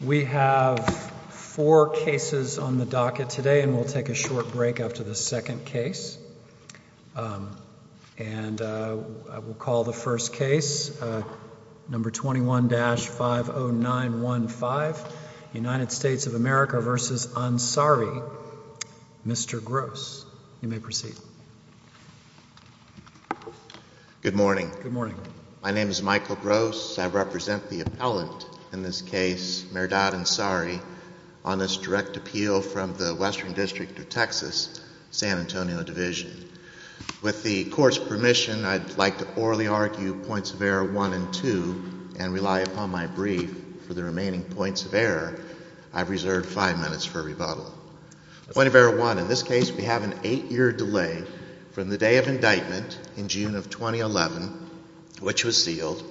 We have four cases on the docket today and we'll take a short break after the second case. And I will call the first case, number 21-50915, United States of America v. Ansari. Mr. Gross, you may proceed. Good morning. My name is Michael Gross. I represent the appellant in this case, Merdad Ansari, on this direct appeal from the Western District of Texas, San Antonio Division. With the court's permission, I'd like to orally argue points of error one and two and rely upon my brief for the remaining points of error. I've reserved five minutes for rebuttal. Point of error one, in this case we have an eight-year delay from the day of indictment in June of 2011, which was sealed,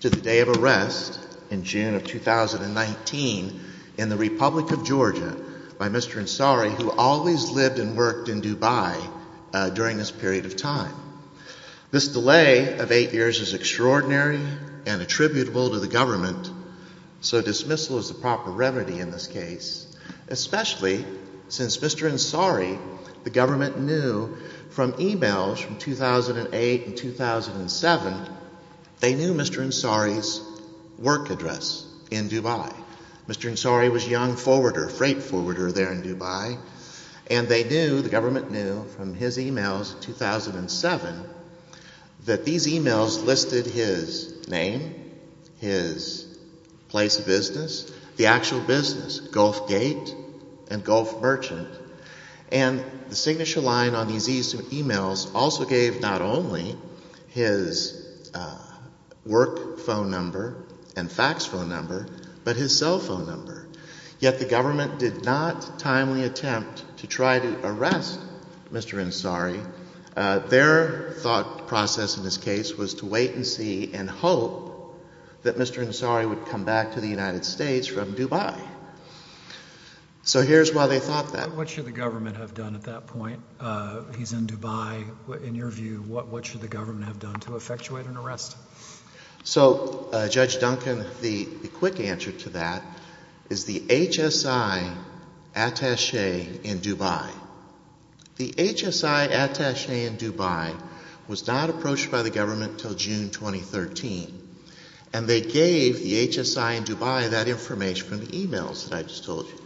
to the day of arrest in June of 2019 in the Republic of Georgia by Mr. Ansari, who always lived and worked in Dubai during this period of time. This delay of eight years is extraordinary and attributable to the government, so dismissal is the proper remedy in this case, especially since Mr. Ansari, the government knew from emails from 2008 and 2007, they knew Mr. Ansari's work address in Dubai. Mr. Ansari was a young forwarder, a freight forwarder there in Dubai, and they knew, the government knew from his emails in 2007 that these emails listed his name, his place of business, the actual business, Gulf Gate and Gulf Merchant. And the signature line on these emails also gave not only his work phone number and fax phone number, but his cell phone number. Yet the government did not timely attempt to try to arrest Mr. Ansari. Their thought process in this case was to wait and see and hope that Mr. Ansari would come back to the United States from Dubai. So here's why they thought that. What should the government have done at that point? He's in Dubai. In your view, what should the government have done to effectuate an arrest? So, Judge Duncan, the quick answer to that is the HSI attache in Dubai. The HSI attache in Dubai was not approached by the government until June 2013, and they gave the HSI in Dubai that information from the emails that I just told you.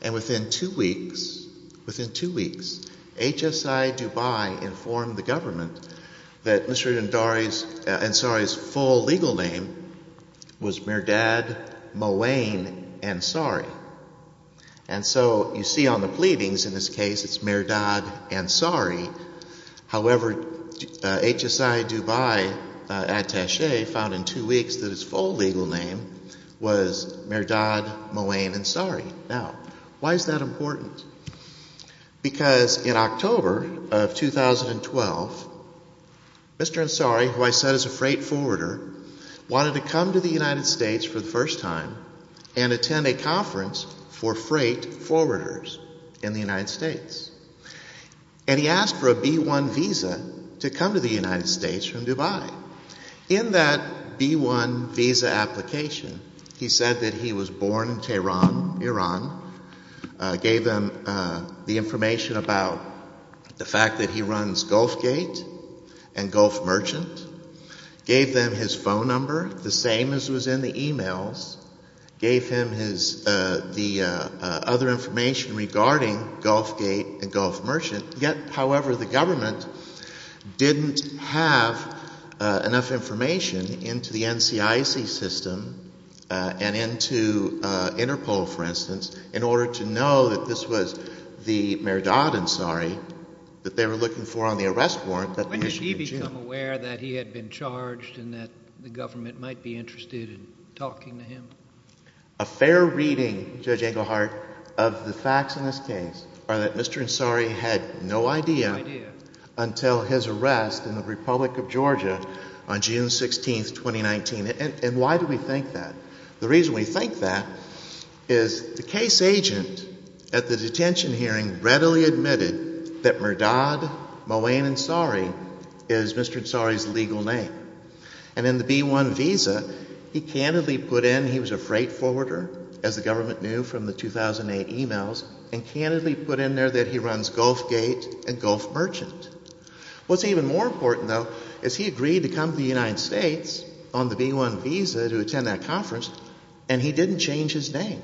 And within two weeks, within two weeks, HSI Dubai informed the government that Mr. Ansari's full legal name was Mehrdad Mowain Ansari. And so you see on the pleadings in this case, it's Mehrdad Ansari. However, HSI Dubai attache found in two weeks that his full legal name was Mehrdad Mowain Ansari. Now, why is that important? Because in October of 2012, Mr. Ansari, who I said is a freight forwarder, wanted to come to the United States for the first time and attend a conference for freight forwarders in the United States. And he asked for a B-1 visa to come to the United States from Dubai. In that B-1 visa application, he said that he was born in Tehran, Iran, gave them the information about the fact that he runs Gulfgate and Gulf Merchant, gave them his phone number, the same as was in the emails, gave him the other information regarding Gulfgate and Gulf Merchant. Yet, however, the government didn't have enough information into the NCIC system and into Interpol, for instance, in order to know that this was the Mehrdad Ansari that they were looking for on the arrest warrant that they issued in June. When did he become aware that he had been charged and that the government might be interested in talking to him? A fair reading, Judge Engelhardt, of the facts in this case are that Mr. Ansari had no idea until his arrest in the Republic of Georgia on June 16, 2019. And why do we think that? The reason we think that is the case agent at the detention hearing readily admitted that Mehrdad Moin Ansari is Mr. Ansari's legal name. And in the B-1 visa, he candidly put in he was a freight forwarder, as the government knew from the 2008 emails, and candidly put in there that he runs Gulfgate and Gulf Merchant. What's even more important, though, is he agreed to come to the United States on the B-1 visa to attend that conference, and he didn't change his name.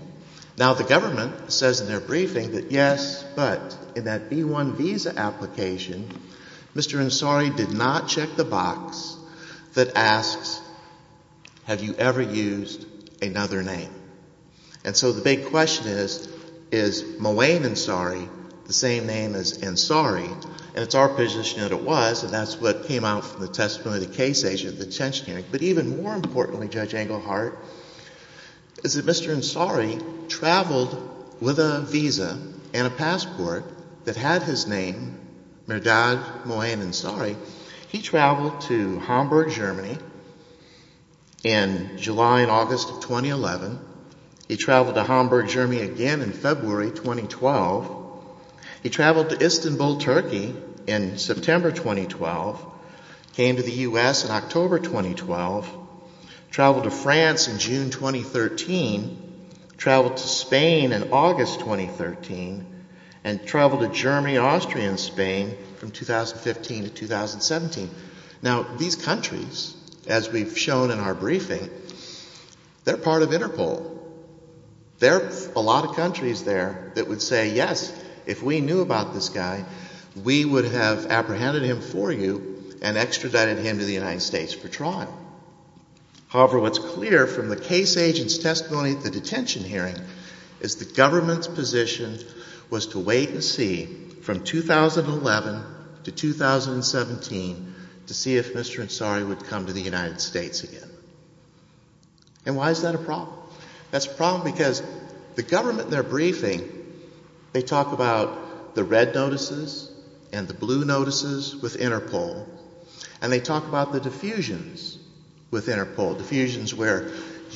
Now, the government says in their briefing that, yes, but in that B-1 visa application, Mr. Ansari did not check the box that asks, have you ever used another name? And so the big question is, is Moin Ansari the same name as Ansari? And it's our position that it was, and that's what came out from the testimony of the case agent at the detention hearing. But even more importantly, Judge Engelhardt, is that Mr. Ansari traveled with a visa and a passport that had his name, Mehrdad Moin Ansari. He traveled to Hamburg, Germany in July and August of 2011. He traveled to Hamburg, Germany again in February 2012. He traveled to Istanbul, Turkey in September 2012. Came to the U.S. in October 2012. Traveled to France in June 2013. Traveled to Spain in August 2013. And traveled to Germany, Austria and Spain from 2015 to 2017. Now, these countries, as we've shown in our briefing, they're part of Interpol. There are a lot of countries there that would say, yes, if we knew about this guy, we would have apprehended him for you and extradited him to the United States for trial. However, what's clear from the case agent's testimony at the detention hearing is the government's position was to wait and see from 2011 to 2017 to see if Mr. Ansari would come to the United States again. And why is that a problem? That's a problem because the government in their briefing, they talk about the red notices and the blue notices with Interpol. And they talk about the diffusions with Interpol. Diffusions where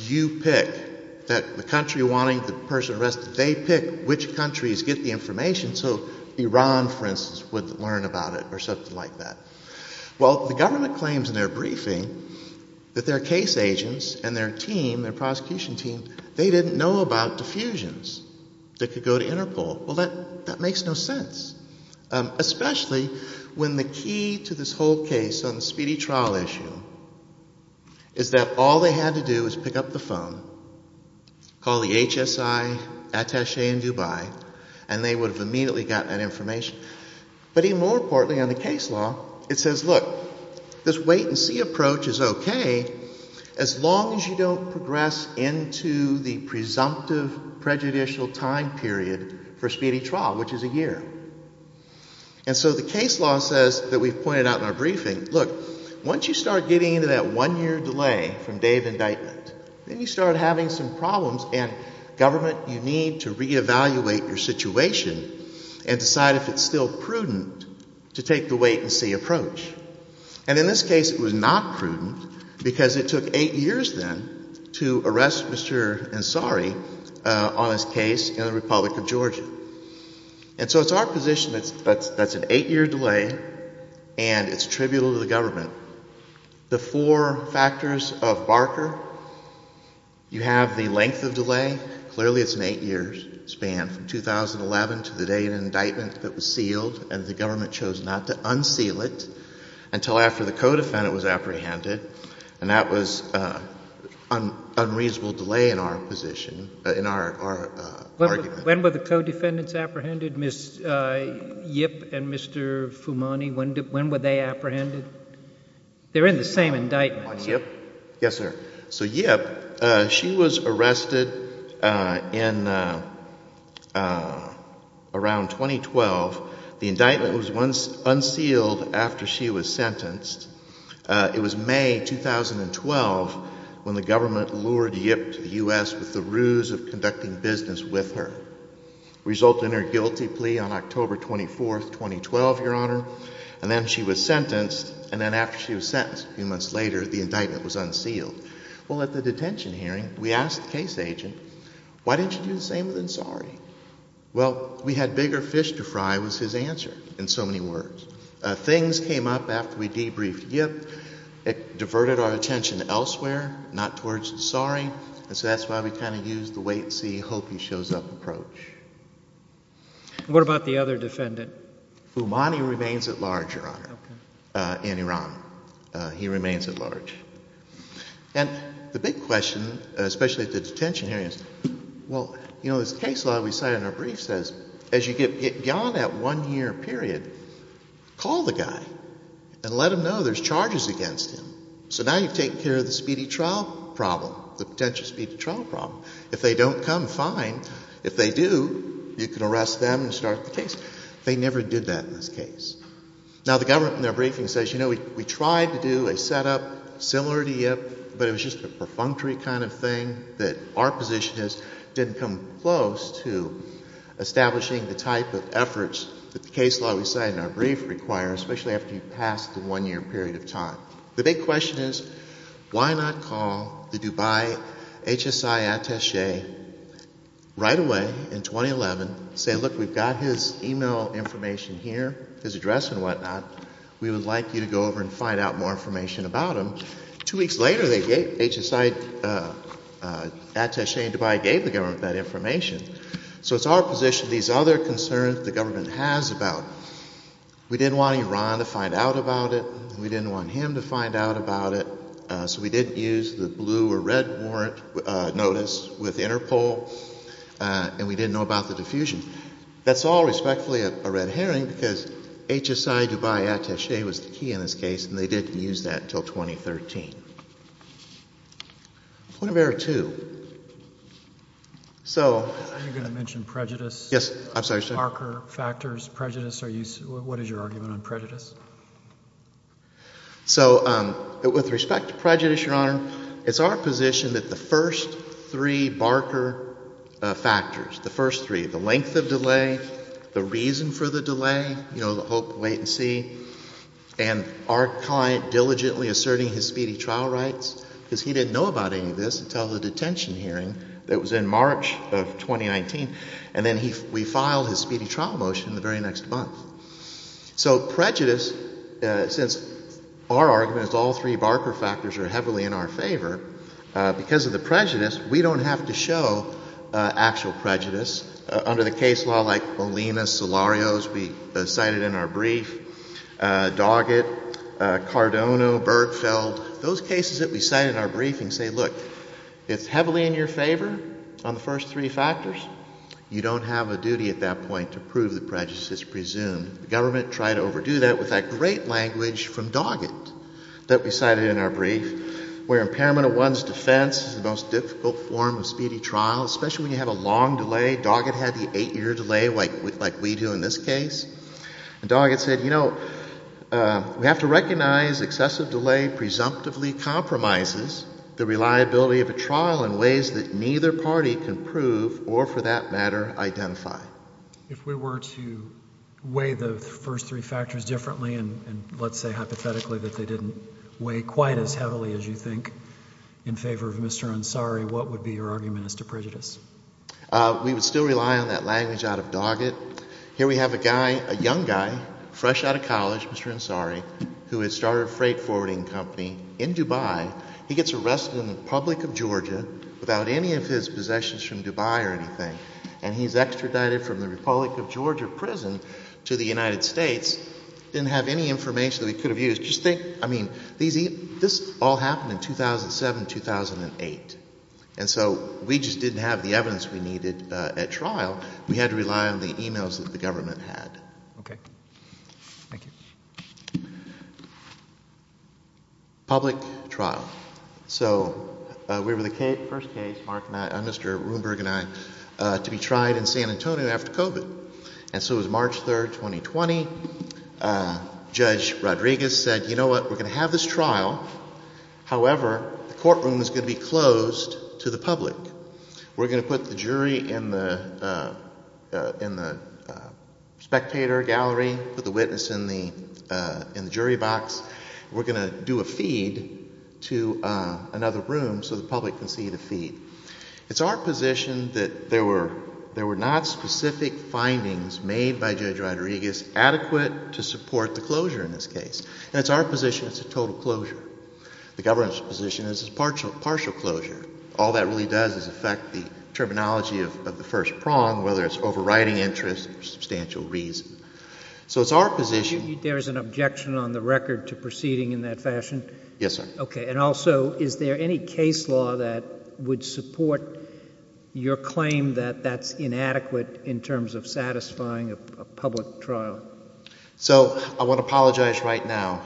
you pick the country wanting the person arrested. They pick which countries get the information so Iran, for instance, would learn about it or something like that. Well, the government claims in their briefing that their case agents and their team, their prosecution team, they didn't know about diffusions that could go to Interpol. Well, that makes no sense. Especially when the key to this whole case on the speedy trial issue is that all they had to do was pick up the phone, call the HSI attache in Dubai, and they would have immediately gotten that information. But even more importantly on the case law, it says, look, this wait and see approach is okay as long as you don't progress into the presumptive prejudicial time period for a speedy trial, which is a year. And so the case law says that we've pointed out in our briefing, look, once you start getting into that one year delay from day of indictment, then you start having some problems and government, you need to reevaluate your situation and decide if it's still prudent to take the wait and see approach. And in this case, it was not prudent because it took eight years then to arrest Mr. Ansari on his case in the Republic of Georgia. And so it's our position that's an eight-year delay and it's tributal to the government. The four factors of Barker, you have the length of delay. Clearly, it's an eight-year span from 2011 to the day of indictment that was sealed and the government chose not to unseal it until after the co-defendant was apprehended. And that was an unreasonable delay in our position, in our argument. When were the co-defendants apprehended, Ms. Yip and Mr. Fumani? When were they apprehended? They're in the same indictment. On Yip? Yes, sir. So Yip, she was arrested in around 2012. The indictment was unsealed after she was sentenced. It was May 2012 when the government lured Yip to the U.S. with the ruse of conducting business with her. It resulted in her guilty plea on October 24, 2012, Your Honor, and then she was sentenced. And then after she was sentenced, a few months later, the indictment was unsealed. Well, at the detention hearing, we asked the case agent, why didn't you do the same with Ansari? Well, we had bigger fish to fry was his answer in so many words. Things came up after we debriefed Yip. It diverted our attention elsewhere, not towards Ansari. And so that's why we kind of used the wait and see, hope he shows up approach. What about the other defendant? Fumani remains at large, Your Honor, in Iran. He remains at large. And the big question, especially at the detention hearings, well, you know, this case law we cite in our brief says, as you get beyond that one-year period, call the guy and let him know there's charges against him. So now you've taken care of the speedy trial problem, the potential speedy trial problem. If they don't come, fine. If they do, you can arrest them and start the case. They never did that in this case. Now, the government in their briefing says, you know, we tried to do a setup similar to Yip, but it was just a perfunctory kind of thing that our position is didn't come close to establishing the type of efforts that the case law we cite in our brief requires, especially after you've passed the one-year period of time. The big question is why not call the Dubai HSI attache right away in 2011, say, look, we've got his e-mail information here, his address and whatnot. We would like you to go over and find out more information about him. Two weeks later, the HSI attache in Dubai gave the government that information. So it's our position these other concerns the government has about we didn't want Iran to find out about it, we didn't want him to find out about it, so we didn't use the blue or red warrant notice with Interpol, and we didn't know about the diffusion. That's all respectfully a red herring because HSI Dubai attache was the key in this case, and they didn't use that until 2013. Point of error two. So. You're going to mention prejudice. Yes, I'm sorry, sir. Barker factors, prejudice. What is your argument on prejudice? So with respect to prejudice, Your Honor, it's our position that the first three Barker factors, the first three, the length of delay, the reason for the delay, you know, the hope, wait and see, and our client diligently asserting his speedy trial rights because he didn't know about any of this until the detention hearing that was in March of 2019, and then we filed his speedy trial motion the very next month. So prejudice, since our argument is all three Barker factors are heavily in our favor, because of the prejudice, we don't have to show actual prejudice. Under the case law like Olina, Solarios, we cited in our brief, Doggett, Cardono, Bergfeld, those cases that we cite in our briefing say, look, it's heavily in your favor on the first three factors. You don't have a duty at that point to prove the prejudice is presumed. The government tried to overdo that with that great language from Doggett that we cited in our brief where impairment of one's defense is the most difficult form of speedy trial, especially when you have a long delay. Doggett had the eight-year delay like we do in this case, and Doggett said, you know, we have to recognize excessive delay presumptively compromises the reliability of a trial in ways that neither party can prove or, for that matter, identify. If we were to weigh the first three factors differently, and let's say hypothetically that they didn't weigh quite as heavily as you think in favor of Mr. Ansari, what would be your argument as to prejudice? We would still rely on that language out of Doggett. Here we have a guy, a young guy, fresh out of college, Mr. Ansari, who had started a freight forwarding company in Dubai. He gets arrested in the public of Georgia without any of his possessions from Dubai or anything, and he's extradited from the Republic of Georgia prison to the United States, didn't have any information that he could have used. Just think, I mean, this all happened in 2007, 2008, and so we just didn't have the evidence we needed at trial. We had to rely on the e-mails that the government had. Okay. Thank you. Public trial. So we were the first case, Mark and I, Mr. Rundberg and I, to be tried in San Antonio after COVID. And so it was March 3, 2020. Judge Rodriguez said, you know what, we're going to have this trial. However, the courtroom is going to be closed to the public. We're going to put the jury in the spectator gallery, put the witness in the jury box. We're going to do a feed to another room so the public can see the feed. It's our position that there were not specific findings made by Judge Rodriguez adequate to support the closure in this case. And it's our position it's a total closure. The government's position is it's a partial closure. All that really does is affect the terminology of the first prong, whether it's overriding interest or substantial reason. So it's our position. There is an objection on the record to proceeding in that fashion? Yes, sir. Okay. And also, is there any case law that would support your claim that that's inadequate in terms of satisfying a public trial? So I want to apologize right now.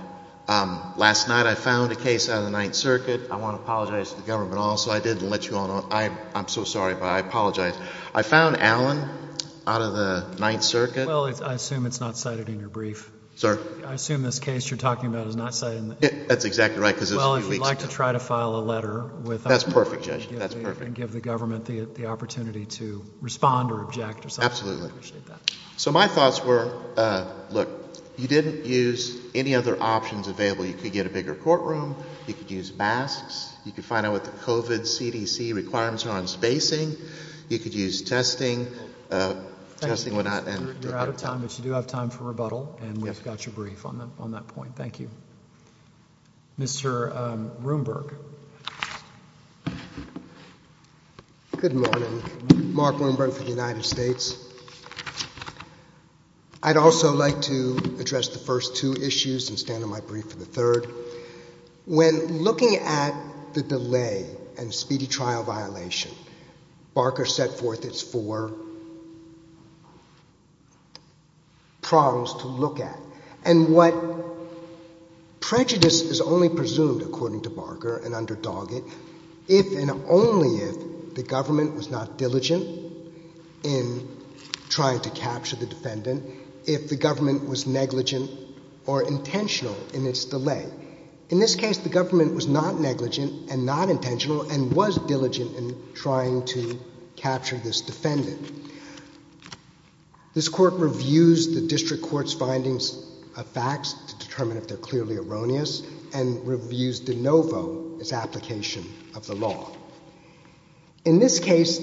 Last night I found a case out of the Ninth Circuit. I want to apologize to the government also. I didn't let you all know. I'm so sorry, but I apologize. I found Allen out of the Ninth Circuit. Well, I assume it's not cited in your brief. I assume this case you're talking about is not cited in the brief. That's exactly right because it's a few weeks ago. Well, if you'd like to try to file a letter with us. That's perfect, Judge. That's perfect. And give the government the opportunity to respond or object or something. Absolutely. I appreciate that. So my thoughts were, look, you didn't use any other options available. You could get a bigger courtroom. You could use masks. You could find out what the COVID CDC requirements are on spacing. You could use testing. Testing would not end. You're out of time, but you do have time for rebuttal. And we've got your brief on that point. Thank you. Mr. Rundberg. Good morning. Mark Rundberg for the United States. I'd also like to address the first two issues and stand on my brief for the third. When looking at the delay and speedy trial violation, Barker set forth its four prongs to look at. And what prejudice is only presumed, according to Barker and under Doggett, if and only if the government was not diligent in trying to capture the defendant, if the government was negligent or intentional in its delay. In this case, the government was not negligent and not intentional and was diligent in trying to capture this defendant. This court reviews the district court's findings of facts to determine if they're clearly erroneous and reviews de novo its application of the law. In this case,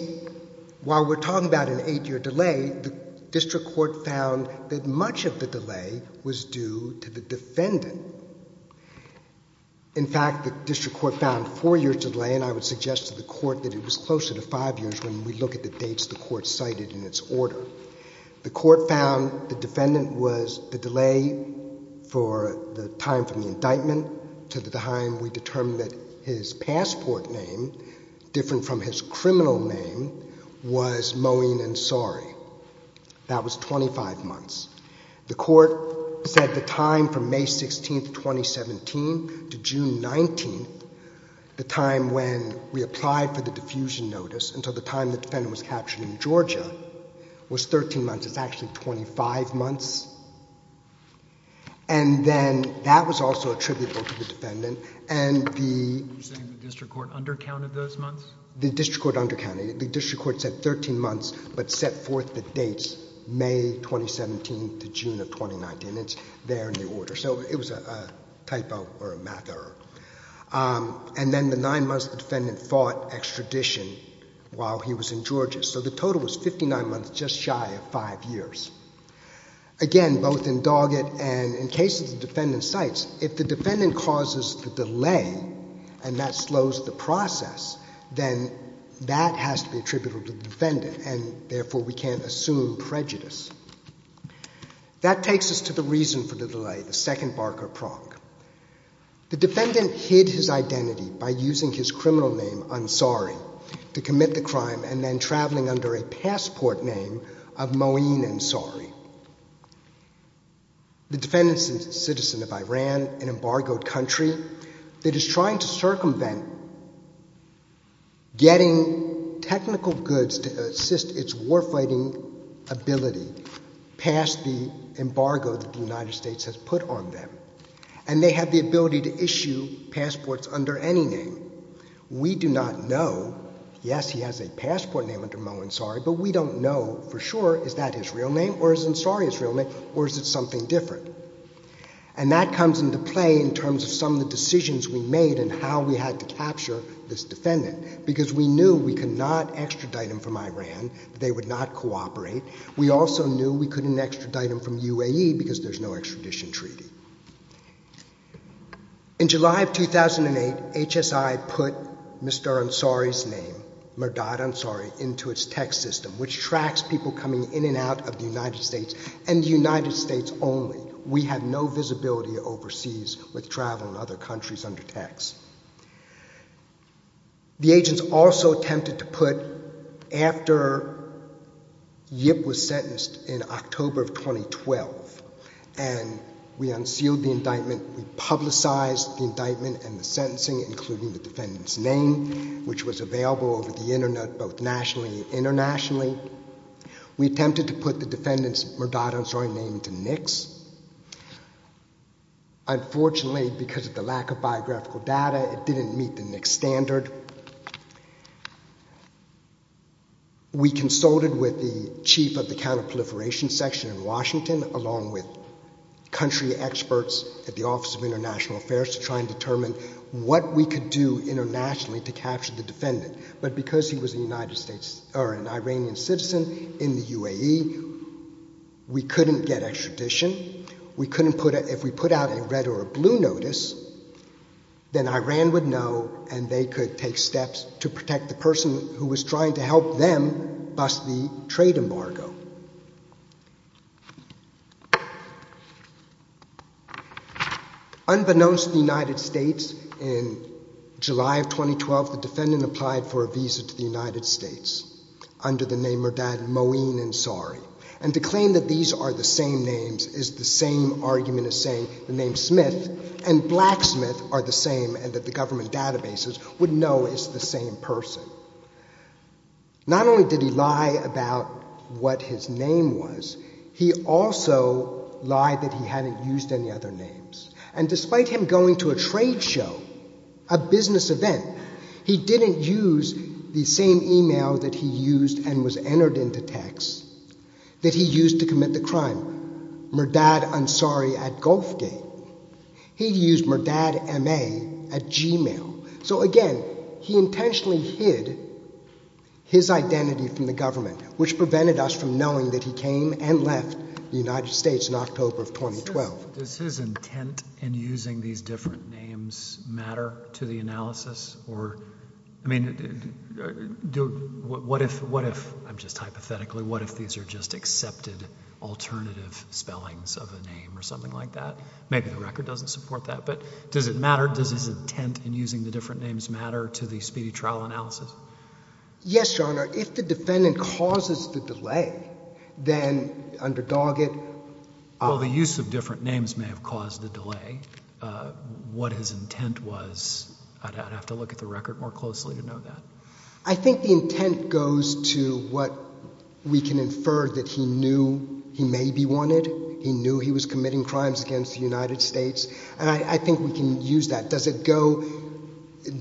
while we're talking about an eight-year delay, the district court found that much of the delay was due to the defendant. In fact, the district court found four years delay, and I would suggest to the court that it was closer to five years when we look at the dates the court cited in its order. The court found the defendant was the delay for the time from the indictment to the time we determined that his passport name, different from his criminal name, was Moeen Ansari. That was 25 months. The court said the time from May 16th, 2017 to June 19th, the time when we applied for the diffusion notice until the time the defendant was captured in Georgia, was 13 months. It's actually 25 months. And then that was also attributable to the defendant, and the... You're saying the district court undercounted those months? The district court undercounted. The district court said 13 months, but set forth the dates May 2017 to June of 2019. It's there in the order. So it was a typo or a math error. And then the nine months the defendant fought extradition while he was in Georgia. So the total was 59 months, just shy of five years. Again, both in Doggett and in cases the defendant cites, if the defendant causes the delay and that slows the process, then that has to be attributable to the defendant, and therefore we can't assume prejudice. That takes us to the reason for the delay, the second Barker prong. The defendant hid his identity by using his criminal name, Ansari, to commit the crime, and then traveling under a passport name of Moeen Ansari. The defendant is a citizen of Iran, an embargoed country, that is trying to circumvent getting technical goods to assist its warfighting ability past the embargo that the United States has put on them. And they have the ability to issue passports under any name. We do not know, yes, he has a passport name under Moeen Ansari, but we don't know for sure is that his real name, or is Ansari his real name, or is it something different? And that comes into play in terms of some of the decisions we made and how we had to capture this defendant, because we knew we could not extradite him from Iran, they would not cooperate. We also knew we couldn't extradite him from UAE because there's no extradition treaty. In July of 2008, HSI put Mr. Ansari's name, Merdad Ansari, into its text system, which tracks people coming in and out of the United States, and the United States only. We have no visibility overseas with travel in other countries under text. The agents also attempted to put, after Yip was sentenced in October of 2012, and we unsealed the indictment, we publicized the indictment and the sentencing, including the defendant's name, which was available over the internet, both nationally and internationally. We attempted to put the defendant's Merdad Ansari name into NICS. Unfortunately, because of the lack of biographical data, it didn't meet the NICS standard. We consulted with the chief of the counterproliferation section in Washington, along with country experts at the Office of International Affairs, to try and determine what we could do internationally to capture the defendant. But because he was an Iranian citizen in the UAE, we couldn't get extradition. If we put out a red or a blue notice, then Iran would know, and they could take steps to protect the person who was trying to help them bust the trade embargo. Unbeknownst to the United States, in July of 2012, the defendant applied for a visa to the United States under the name Merdad Mouin Ansari. And to claim that these are the same names is the same argument as saying the name Smith, and Blacksmith are the same, and that the government databases would know it's the same person. Not only did he lie about what his name was, he also lied that he hadn't used any other names. And despite him going to a trade show, a business event, he didn't use the same email that he used and was entered into text that he used to commit the crime, Merdad Ansari at Gulfgate. He used Merdad MA at Gmail. So again, he intentionally hid his identity from the government, which prevented us from knowing that he came and left the United States in October of 2012. Does his intent in using these different names matter to the analysis? Or, I mean, what if, I'm just hypothetically, what if these are just accepted alternative spellings of a name or something like that? Maybe the record doesn't support that, but does it matter? Or does his intent in using the different names matter to the speedy trial analysis? Yes, Your Honor. If the defendant causes the delay, then under Doggett— Well, the use of different names may have caused the delay. What his intent was, I'd have to look at the record more closely to know that. I think the intent goes to what we can infer that he knew he may be wanted. He knew he was committing crimes against the United States. And I think we can use that. Does it go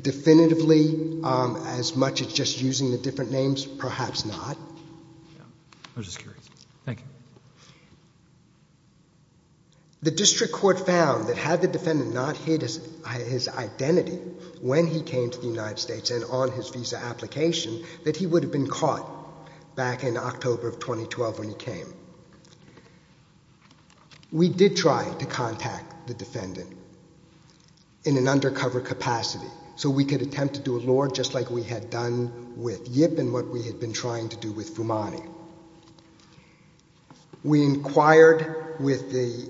definitively as much as just using the different names? Perhaps not. I was just curious. Thank you. The district court found that had the defendant not hid his identity when he came to the United States and on his visa application, that he would have been caught back in October of 2012 when he came. We did try to contact the defendant in an undercover capacity so we could attempt to do a lure just like we had done with Yip and what we had been trying to do with Fumani. We inquired with the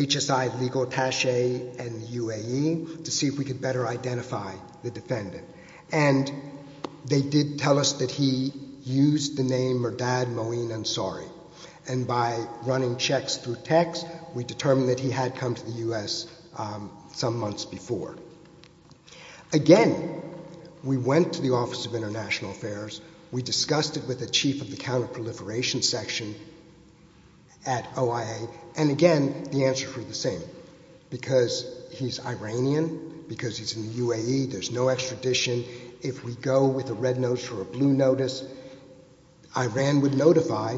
HSI legal attache and the UAE to see if we could better identify the defendant. And they did tell us that he used the name Murdad Moeen Ansari. And by running checks through text, we determined that he had come to the U.S. some months before. Again, we went to the Office of International Affairs. We discussed it with the chief of the counterproliferation section at OIA. And again, the answers were the same. Because he's Iranian, because he's in the UAE, there's no extradition. If we go with a red notice or a blue notice, Iran would notify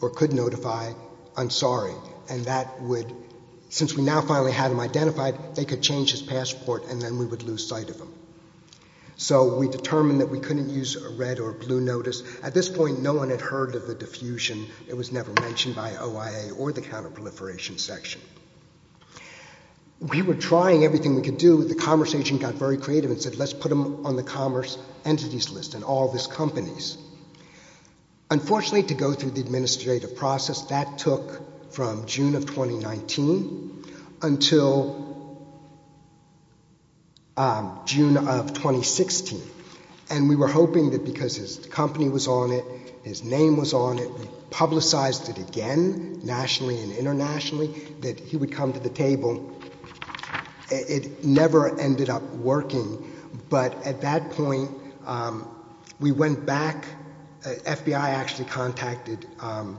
or could notify Ansari. And that would, since we now finally had him identified, they could change his passport and then we would lose sight of him. So we determined that we couldn't use a red or blue notice. At this point, no one had heard of the diffusion. It was never mentioned by OIA or the counterproliferation section. We were trying everything we could do. The commerce agent got very creative and said, let's put him on the commerce entities list and all of his companies. Unfortunately, to go through the administrative process, that took from June of 2019 until June of 2016. And we were hoping that because his company was on it, his name was on it, we publicized it again nationally and internationally, that he would come to the table. It never ended up working. But at that point, we went back. FBI actually contacted an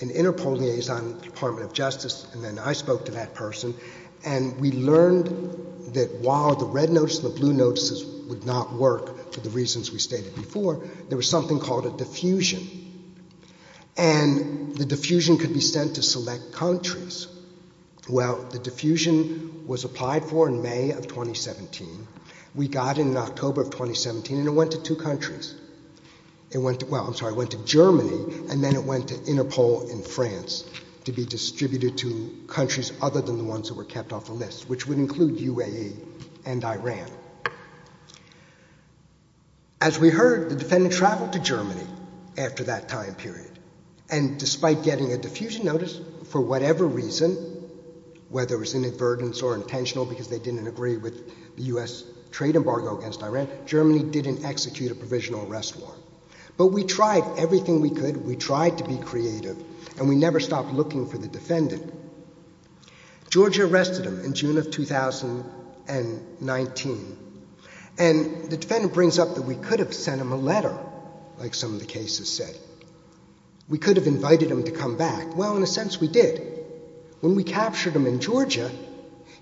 Interpol liaison, Department of Justice, and then I spoke to that person. And we learned that while the red notice and the blue notices would not work for the reasons we stated before, there was something called a diffusion. And the diffusion could be sent to select countries. Well, the diffusion was applied for in May of 2017. We got it in October of 2017, and it went to two countries. It went to, well, I'm sorry, it went to Germany, and then it went to Interpol in France to be distributed to countries other than the ones that were kept off the list, which would include UAE and Iran. As we heard, the defendant traveled to Germany after that time period. And despite getting a diffusion notice for whatever reason, whether it was inadvertence or intentional because they didn't agree with the U.S. trade embargo against Iran, Germany didn't execute a provisional arrest war. But we tried everything we could, we tried to be creative, and we never stopped looking for the defendant. Georgia arrested him in June of 2019. And the defendant brings up that we could have sent him a letter, like some of the cases said. We could have invited him to come back. Well, in a sense, we did. When we captured him in Georgia,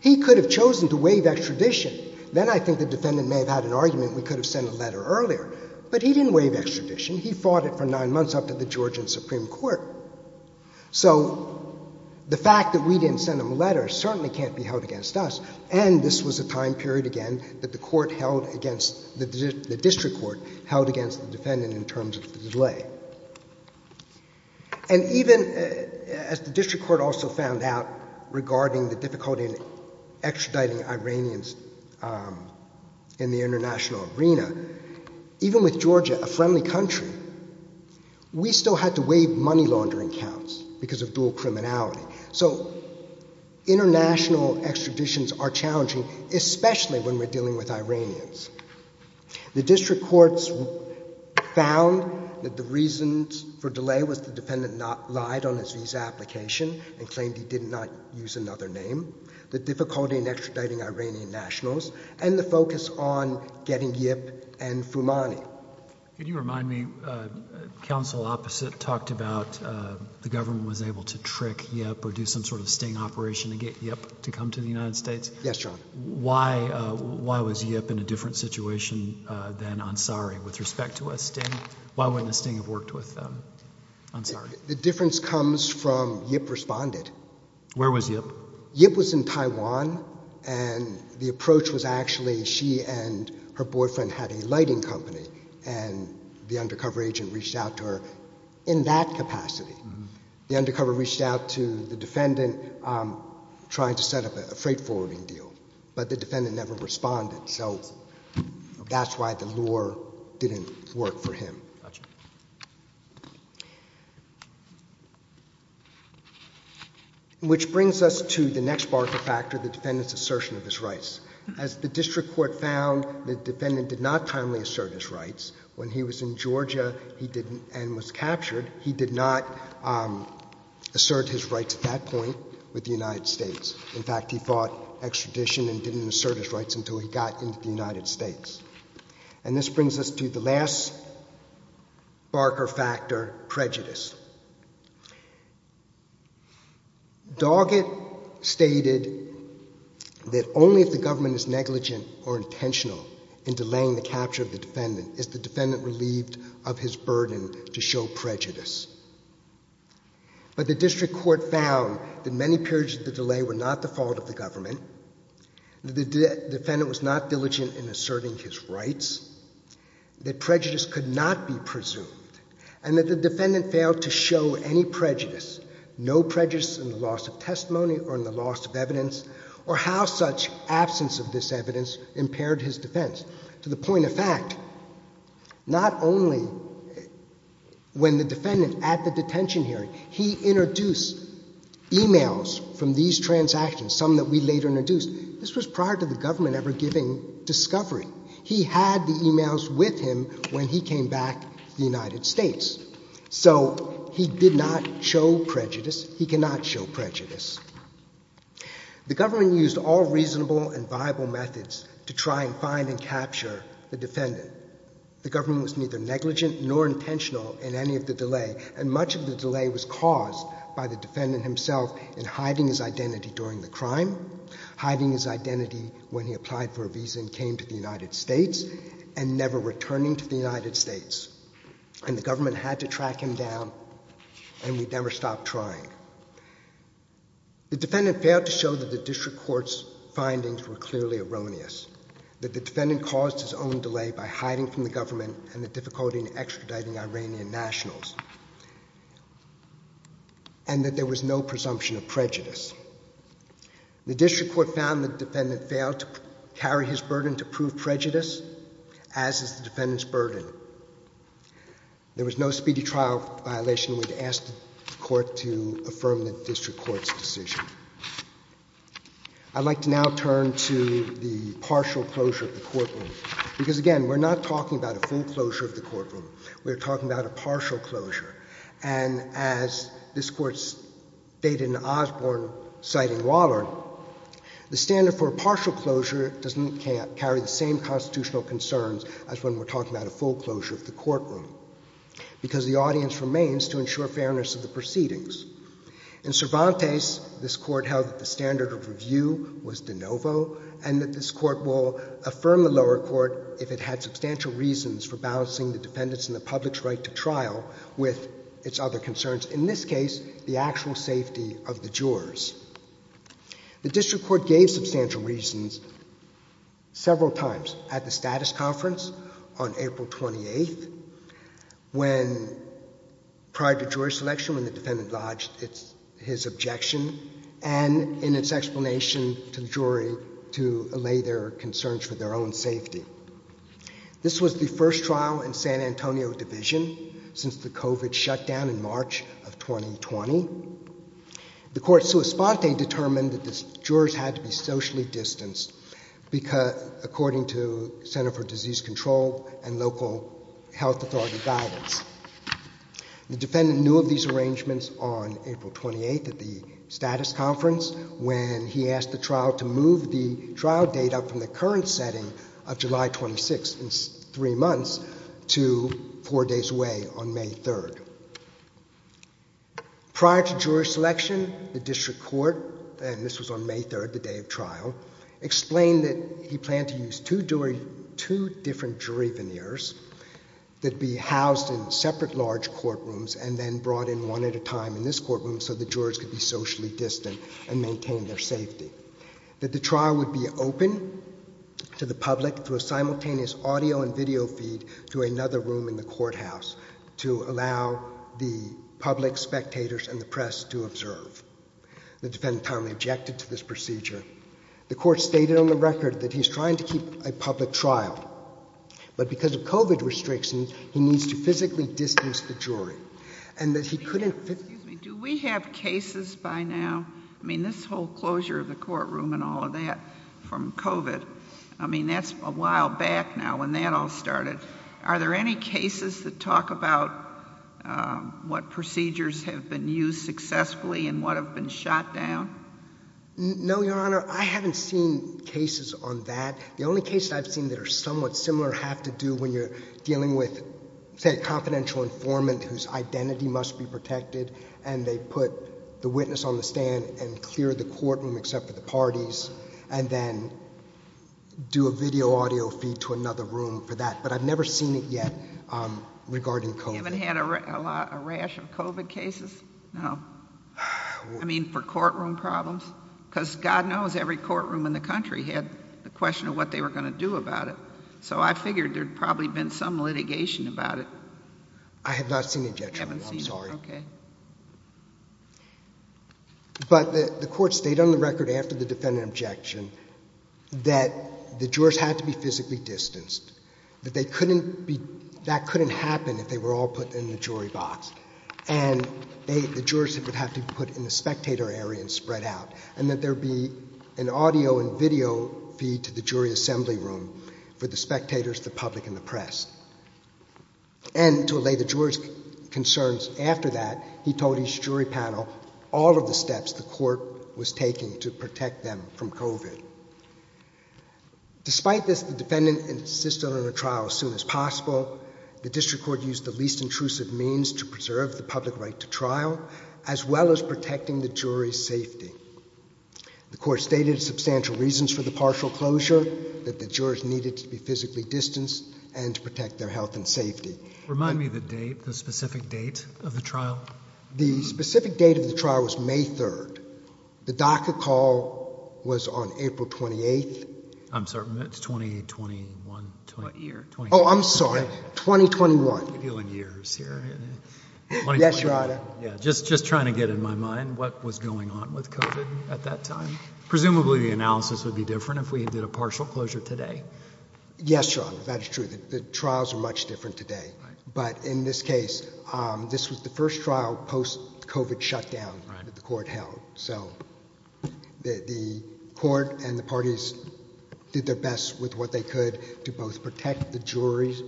he could have chosen to waive extradition. Then I think the defendant may have had an argument we could have sent a letter earlier. But he didn't waive extradition. He fought it for nine months up to the Georgian Supreme Court. So the fact that we didn't send him a letter certainly can't be held against us. And this was a time period, again, that the court held against, the district court held against the defendant in terms of the delay. And even as the district court also found out regarding the difficulty in extraditing Iranians in the international arena, even with Georgia a friendly country, we still had to waive money laundering counts because of dual criminality. So international extraditions are challenging, especially when we're dealing with Iranians. The district courts found that the reasons for delay was the defendant lied on his visa application and claimed he did not use another name, the difficulty in extraditing Iranian nationals, and the focus on getting Yip and Foumani. Could you remind me, counsel opposite talked about the government was able to trick Yip or do some sort of sting operation to get Yip to come to the United States. Yes, Your Honor. Why was Yip in a different situation than Ansari with respect to a sting? Why wouldn't a sting have worked with Ansari? The difference comes from Yip responded. Where was Yip? Yip was in Taiwan, and the approach was actually she and her boyfriend had a lighting company, and the undercover agent reached out to her in that capacity. The undercover reached out to the defendant trying to set up a freight forwarding deal, but the defendant never responded, so that's why the lure didn't work for him. Gotcha. Which brings us to the next barker factor, the defendant's assertion of his rights. As the district court found, the defendant did not timely assert his rights. When he was in Georgia and was captured, he did not assert his rights at that point with the United States. In fact, he fought extradition and didn't assert his rights until he got into the United States. And this brings us to the last barker factor, prejudice. Doggett stated that only if the government is negligent or intentional in delaying the capture of the defendant is the defendant relieved of his burden to show prejudice. But the district court found that many periods of the delay were not the fault of the government, that the defendant was not diligent in asserting his rights, that prejudice could not be presumed, and that the defendant failed to show any prejudice, no prejudice in the loss of testimony or in the loss of evidence, or how such absence of this evidence impaired his defense, to the point of fact, not only when the defendant, at the detention hearing, he introduced e-mails from these transactions, some that we later introduced, this was prior to the government ever giving discovery. He had the e-mails with him when he came back to the United States. So he did not show prejudice. He cannot show prejudice. The government used all reasonable and viable methods to try and find and capture the defendant. The government was neither negligent nor intentional in any of the delay, and much of the delay was caused by the defendant himself in hiding his identity during the crime, hiding his identity when he applied for a visa and came to the United States, and never returning to the United States. And the government had to track him down, and we never stopped trying. The defendant failed to show that the district court's findings were clearly erroneous, that the defendant caused his own delay by hiding from the government and the difficulty in extraditing Iranian nationals, and that there was no presumption of prejudice. The district court found the defendant failed to carry his burden to prove prejudice, as is the defendant's burden. There was no speedy trial violation. I'd like to now turn to the partial closure of the courtroom. Because, again, we're not talking about a full closure of the courtroom. We're talking about a partial closure. And as this Court's data in Osborne citing Waller, the standard for a partial closure doesn't carry the same constitutional concerns as when we're talking about a full closure of the courtroom, because the audience remains to ensure fairness of the proceedings. In Cervantes, this Court held that the standard of review was de novo, and that this Court will affirm the lower court if it had substantial reasons for balancing the defendant's and the public's right to trial with its other concerns, in this case, the actual safety of the jurors. The district court gave substantial reasons several times, at the status conference on April 28th, when, prior to jury selection, when the defendant lodged his objection, and in its explanation to the jury to allay their concerns for their own safety. This was the first trial in San Antonio Division since the COVID shutdown in March of 2020. The court sua sponte determined that the jurors had to be socially distanced according to Center for Disease Control and local health authority guidance. The defendant knew of these arrangements on April 28th at the status conference, when he asked the trial to move the trial date up from the current setting of July 26th, in three months, to four days away, on May 3rd. Prior to jury selection, the district court, and this was on May 3rd, the day of trial, explained that he planned to use two different jury veneers that'd be housed in separate large courtrooms and then brought in one at a time in this courtroom so the jurors could be socially distant and maintain their safety. That the trial would be open to the public through a simultaneous audio and video feed to another room in the courthouse to allow the public, spectators, and the press to observe. The defendant timely objected to this procedure. The court stated on the record that he's trying to keep a public trial. But because of COVID restrictions, he needs to physically distance the jury. And that he couldn't physically... Excuse me, do we have cases by now? I mean, this whole closure of the courtroom and all of that from COVID, I mean, that's a while back now when that all started. Are there any cases that talk about what procedures have been used successfully and what have been shot down? No, Your Honor, I haven't seen cases on that. The only cases I've seen that are somewhat similar have to do when you're dealing with, say, a confidential informant whose identity must be protected and they put the witness on the stand and clear the courtroom except for the parties and then do a video audio feed to another room for that. But I've never seen it yet regarding COVID. You haven't had a rash of COVID cases? No. I mean, for courtroom problems? Because God knows every courtroom in the country had the question of what they were going to do about it. So I figured there'd probably been some litigation about it. I have not seen an injection. I'm sorry. You haven't seen one, OK. But the court stated on the record after the defendant objection that the jurors had to be physically distanced, that they couldn't be... that couldn't happen if they were all put in the jury box. And the jurors would have to be put in the spectator area and spread out, and that there be an audio and video feed to the jury assembly room for the spectators, the public, and the press. And to allay the jurors' concerns after that, he told his jury panel all of the steps the court was taking to protect them from COVID. Despite this, the defendant insisted on a trial as soon as possible. The district court used the least intrusive means to preserve the public right to trial, as well as protecting the jury's safety. The court stated substantial reasons for the partial closure, that the jurors needed to be physically distanced, and to protect their health and safety. Remind me of the date, the specific date of the trial. The specific date of the trial was May 3rd. The DACA call was on April 28th. I'm sorry, it's 20... 21... Oh, I'm sorry, 2021. Yes, Your Honor. Just trying to get in my mind, what was going on with COVID at that time. Presumably the analysis would be different if we did a partial closure today. Yes, Your Honor, that is true. The trials are much different today. But in this case, this was the first trial post-COVID shutdown that the court held. So the court and the parties did their best with what they could to both protect the jurors,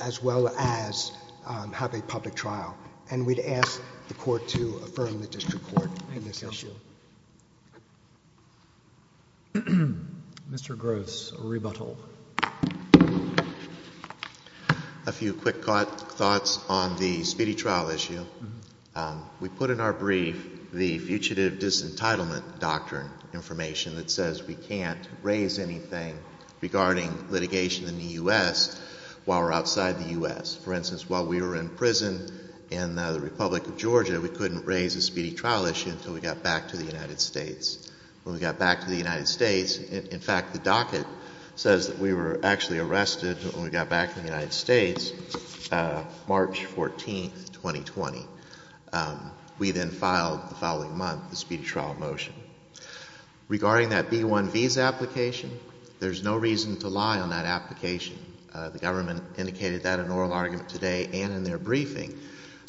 as well as have a public trial. And we'd ask the court to affirm the district court on this issue. Mr. Gross, a rebuttal. A few quick thoughts on the speedy trial issue. We put in our brief the Fugitive Disentitlement Doctrine information that says we can't raise anything regarding litigation in the U.S. while we're outside the U.S. For instance, while we were in prison in the Republic of Georgia, we couldn't raise a speedy trial issue until we got back to the United States. When we got back to the United States... In fact, the docket says that we were actually arrested when we got back to the United States March 14th, 2020. We then filed the following month the speedy trial motion. Regarding that B-1 visa application, there's no reason to lie on that application. The government indicated that in oral argument today and in their briefing.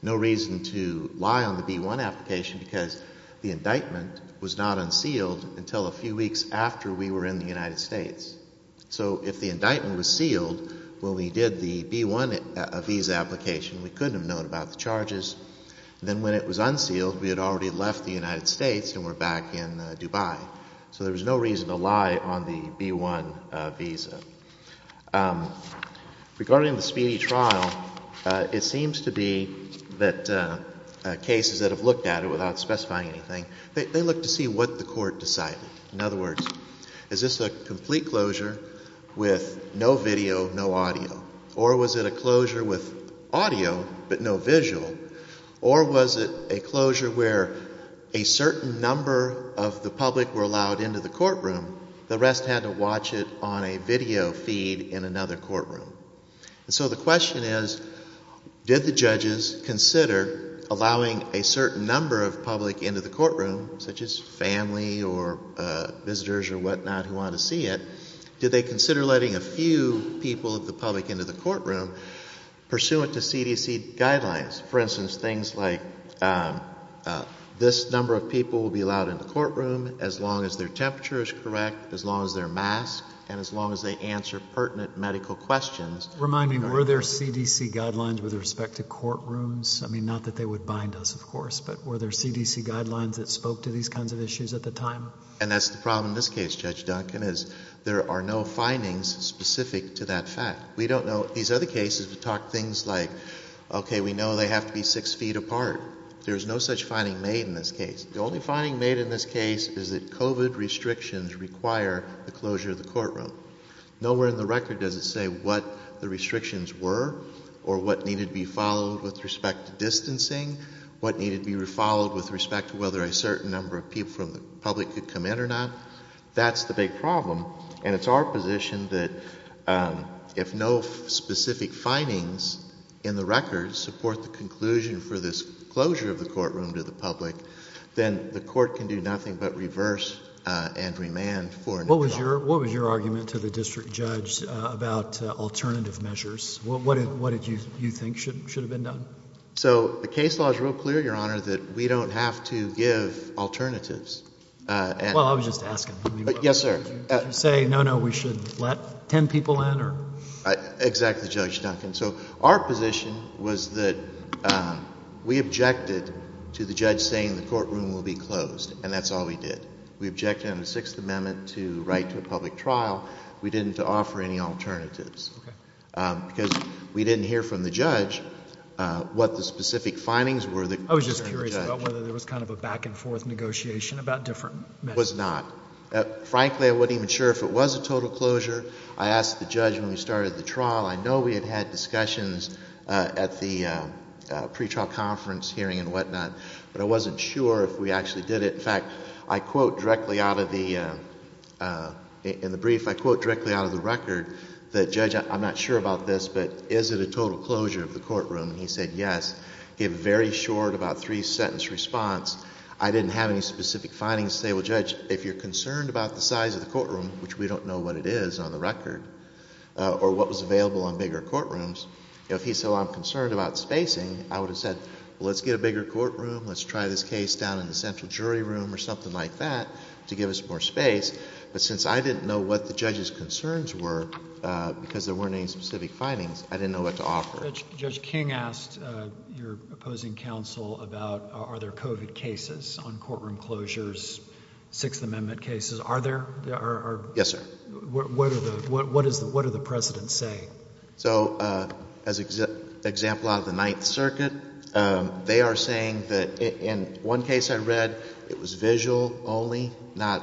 No reason to lie on the B-1 application because the indictment was not unsealed until a few weeks after we were in the United States. So if the indictment was sealed when we did the B-1 visa application, we couldn't have known about the charges. Then when it was unsealed, we had already left the United States and were back in Dubai. So there was no reason to lie on the B-1 visa. Regarding the speedy trial, it seems to be that cases that have looked at it without specifying anything, they look to see what the court decided. In other words, is this a complete closure with no video, no audio? Or was it a closure with audio but no visual? Or was it a closure where a certain number of the public were allowed into the courtroom, the rest had to watch it on a video feed in another courtroom? And so the question is, did the judges consider allowing a certain number of public into the courtroom, such as family or visitors or whatnot who wanted to see it, did they consider letting a few people of the public into the courtroom pursuant to CDC guidelines, for instance, things like this number of people will be allowed in the courtroom as long as their temperature is correct, as long as they're masked, and as long as they answer pertinent medical questions? Remind me, were there CDC guidelines with respect to courtrooms? I mean, not that they would bind us, of course, but were there CDC guidelines that spoke to these kinds of issues at the time? And that's the problem in this case, Judge Duncan, is there are no findings specific to that fact. We don't know... These other cases, we talk things like, okay, we know they have to be 6 feet apart. There's no such finding made in this case. The only finding made in this case is that COVID restrictions require the closure of the courtroom. Nowhere in the record does it say what the restrictions were or what needed to be followed with respect to distancing, what needed to be followed with respect to whether a certain number of people from the public could come in or not. That's the big problem, and it's our position that if no specific findings in the record support the conclusion for this closure of the courtroom to the public, then the court can do nothing but reverse and remand for a new trial. What was your argument to the district judge about alternative measures? What did you think should have been done? So the case law is real clear, Your Honor, that we don't have to give alternatives. Well, I was just asking. Yes, sir. Did you say, no, no, we should let 10 people in? Exactly, Judge Duncan. So our position was that we objected to the judge saying the courtroom will be closed, and that's all we did. We objected under the Sixth Amendment to write to a public trial. We didn't offer any alternatives because we didn't hear from the judge what the specific findings were. I was just curious about whether there was kind of a back-and-forth negotiation about different measures. There was not. Frankly, I wasn't even sure if it was a total closure. I asked the judge when we started the trial. I know we had had discussions at the pretrial conference hearing and whatnot, but I wasn't sure if we actually did it. In fact, I quote directly out of the... In the brief, I quote directly out of the record that, Judge, I'm not sure about this, but is it a total closure of the courtroom? He said yes. He had a very short, about three-sentence response. I didn't have any specific findings to say, well, Judge, if you're concerned about the size of the courtroom, which we don't know what it is on the record, or what was available on bigger courtrooms, if he said, well, I'm concerned about spacing, I would have said, well, let's get a bigger courtroom, let's try this case down in the central jury room or something like that to give us more space, but since I didn't know what the judge's concerns were because there weren't any specific findings, I didn't know what to offer. Judge King asked your opposing counsel about are there COVID cases on courtroom closures, Sixth Amendment cases. Are there? Yes, sir. What are the precedents saying? So as an example out of the Ninth Circuit, they are saying that in one case I read, it was audio only, not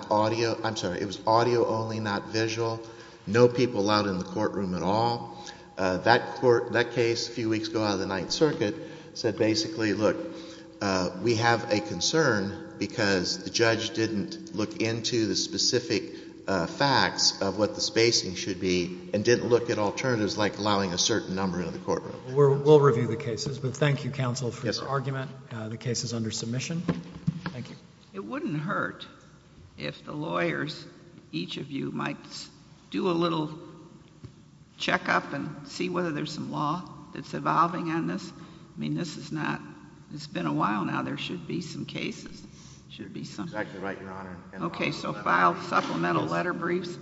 visual, no people allowed in the courtroom at all. That case a few weeks ago out of the Ninth Circuit said basically, look, we have a concern because the judge didn't look into the specific facts of what the spacing should be and didn't look at alternatives like allowing a certain number in the courtroom. We'll review the cases, but thank you, counsel, for your argument. The case is under submission. Thank you. It wouldn't hurt if the lawyers, each of you, might do a little checkup and see whether there's some law that's evolving on this I mean, this is not, it's been a while now, there should be some cases. Should be something. That's exactly right, Your Honor. Okay, so file supplemental letter briefs,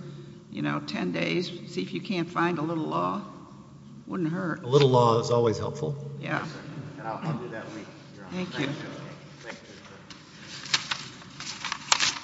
you know, 10 days, see if you can't find a little law. Wouldn't hurt. A little law is always helpful. Yeah. And I'll do that week, Your Honor. Thank you. Thank you.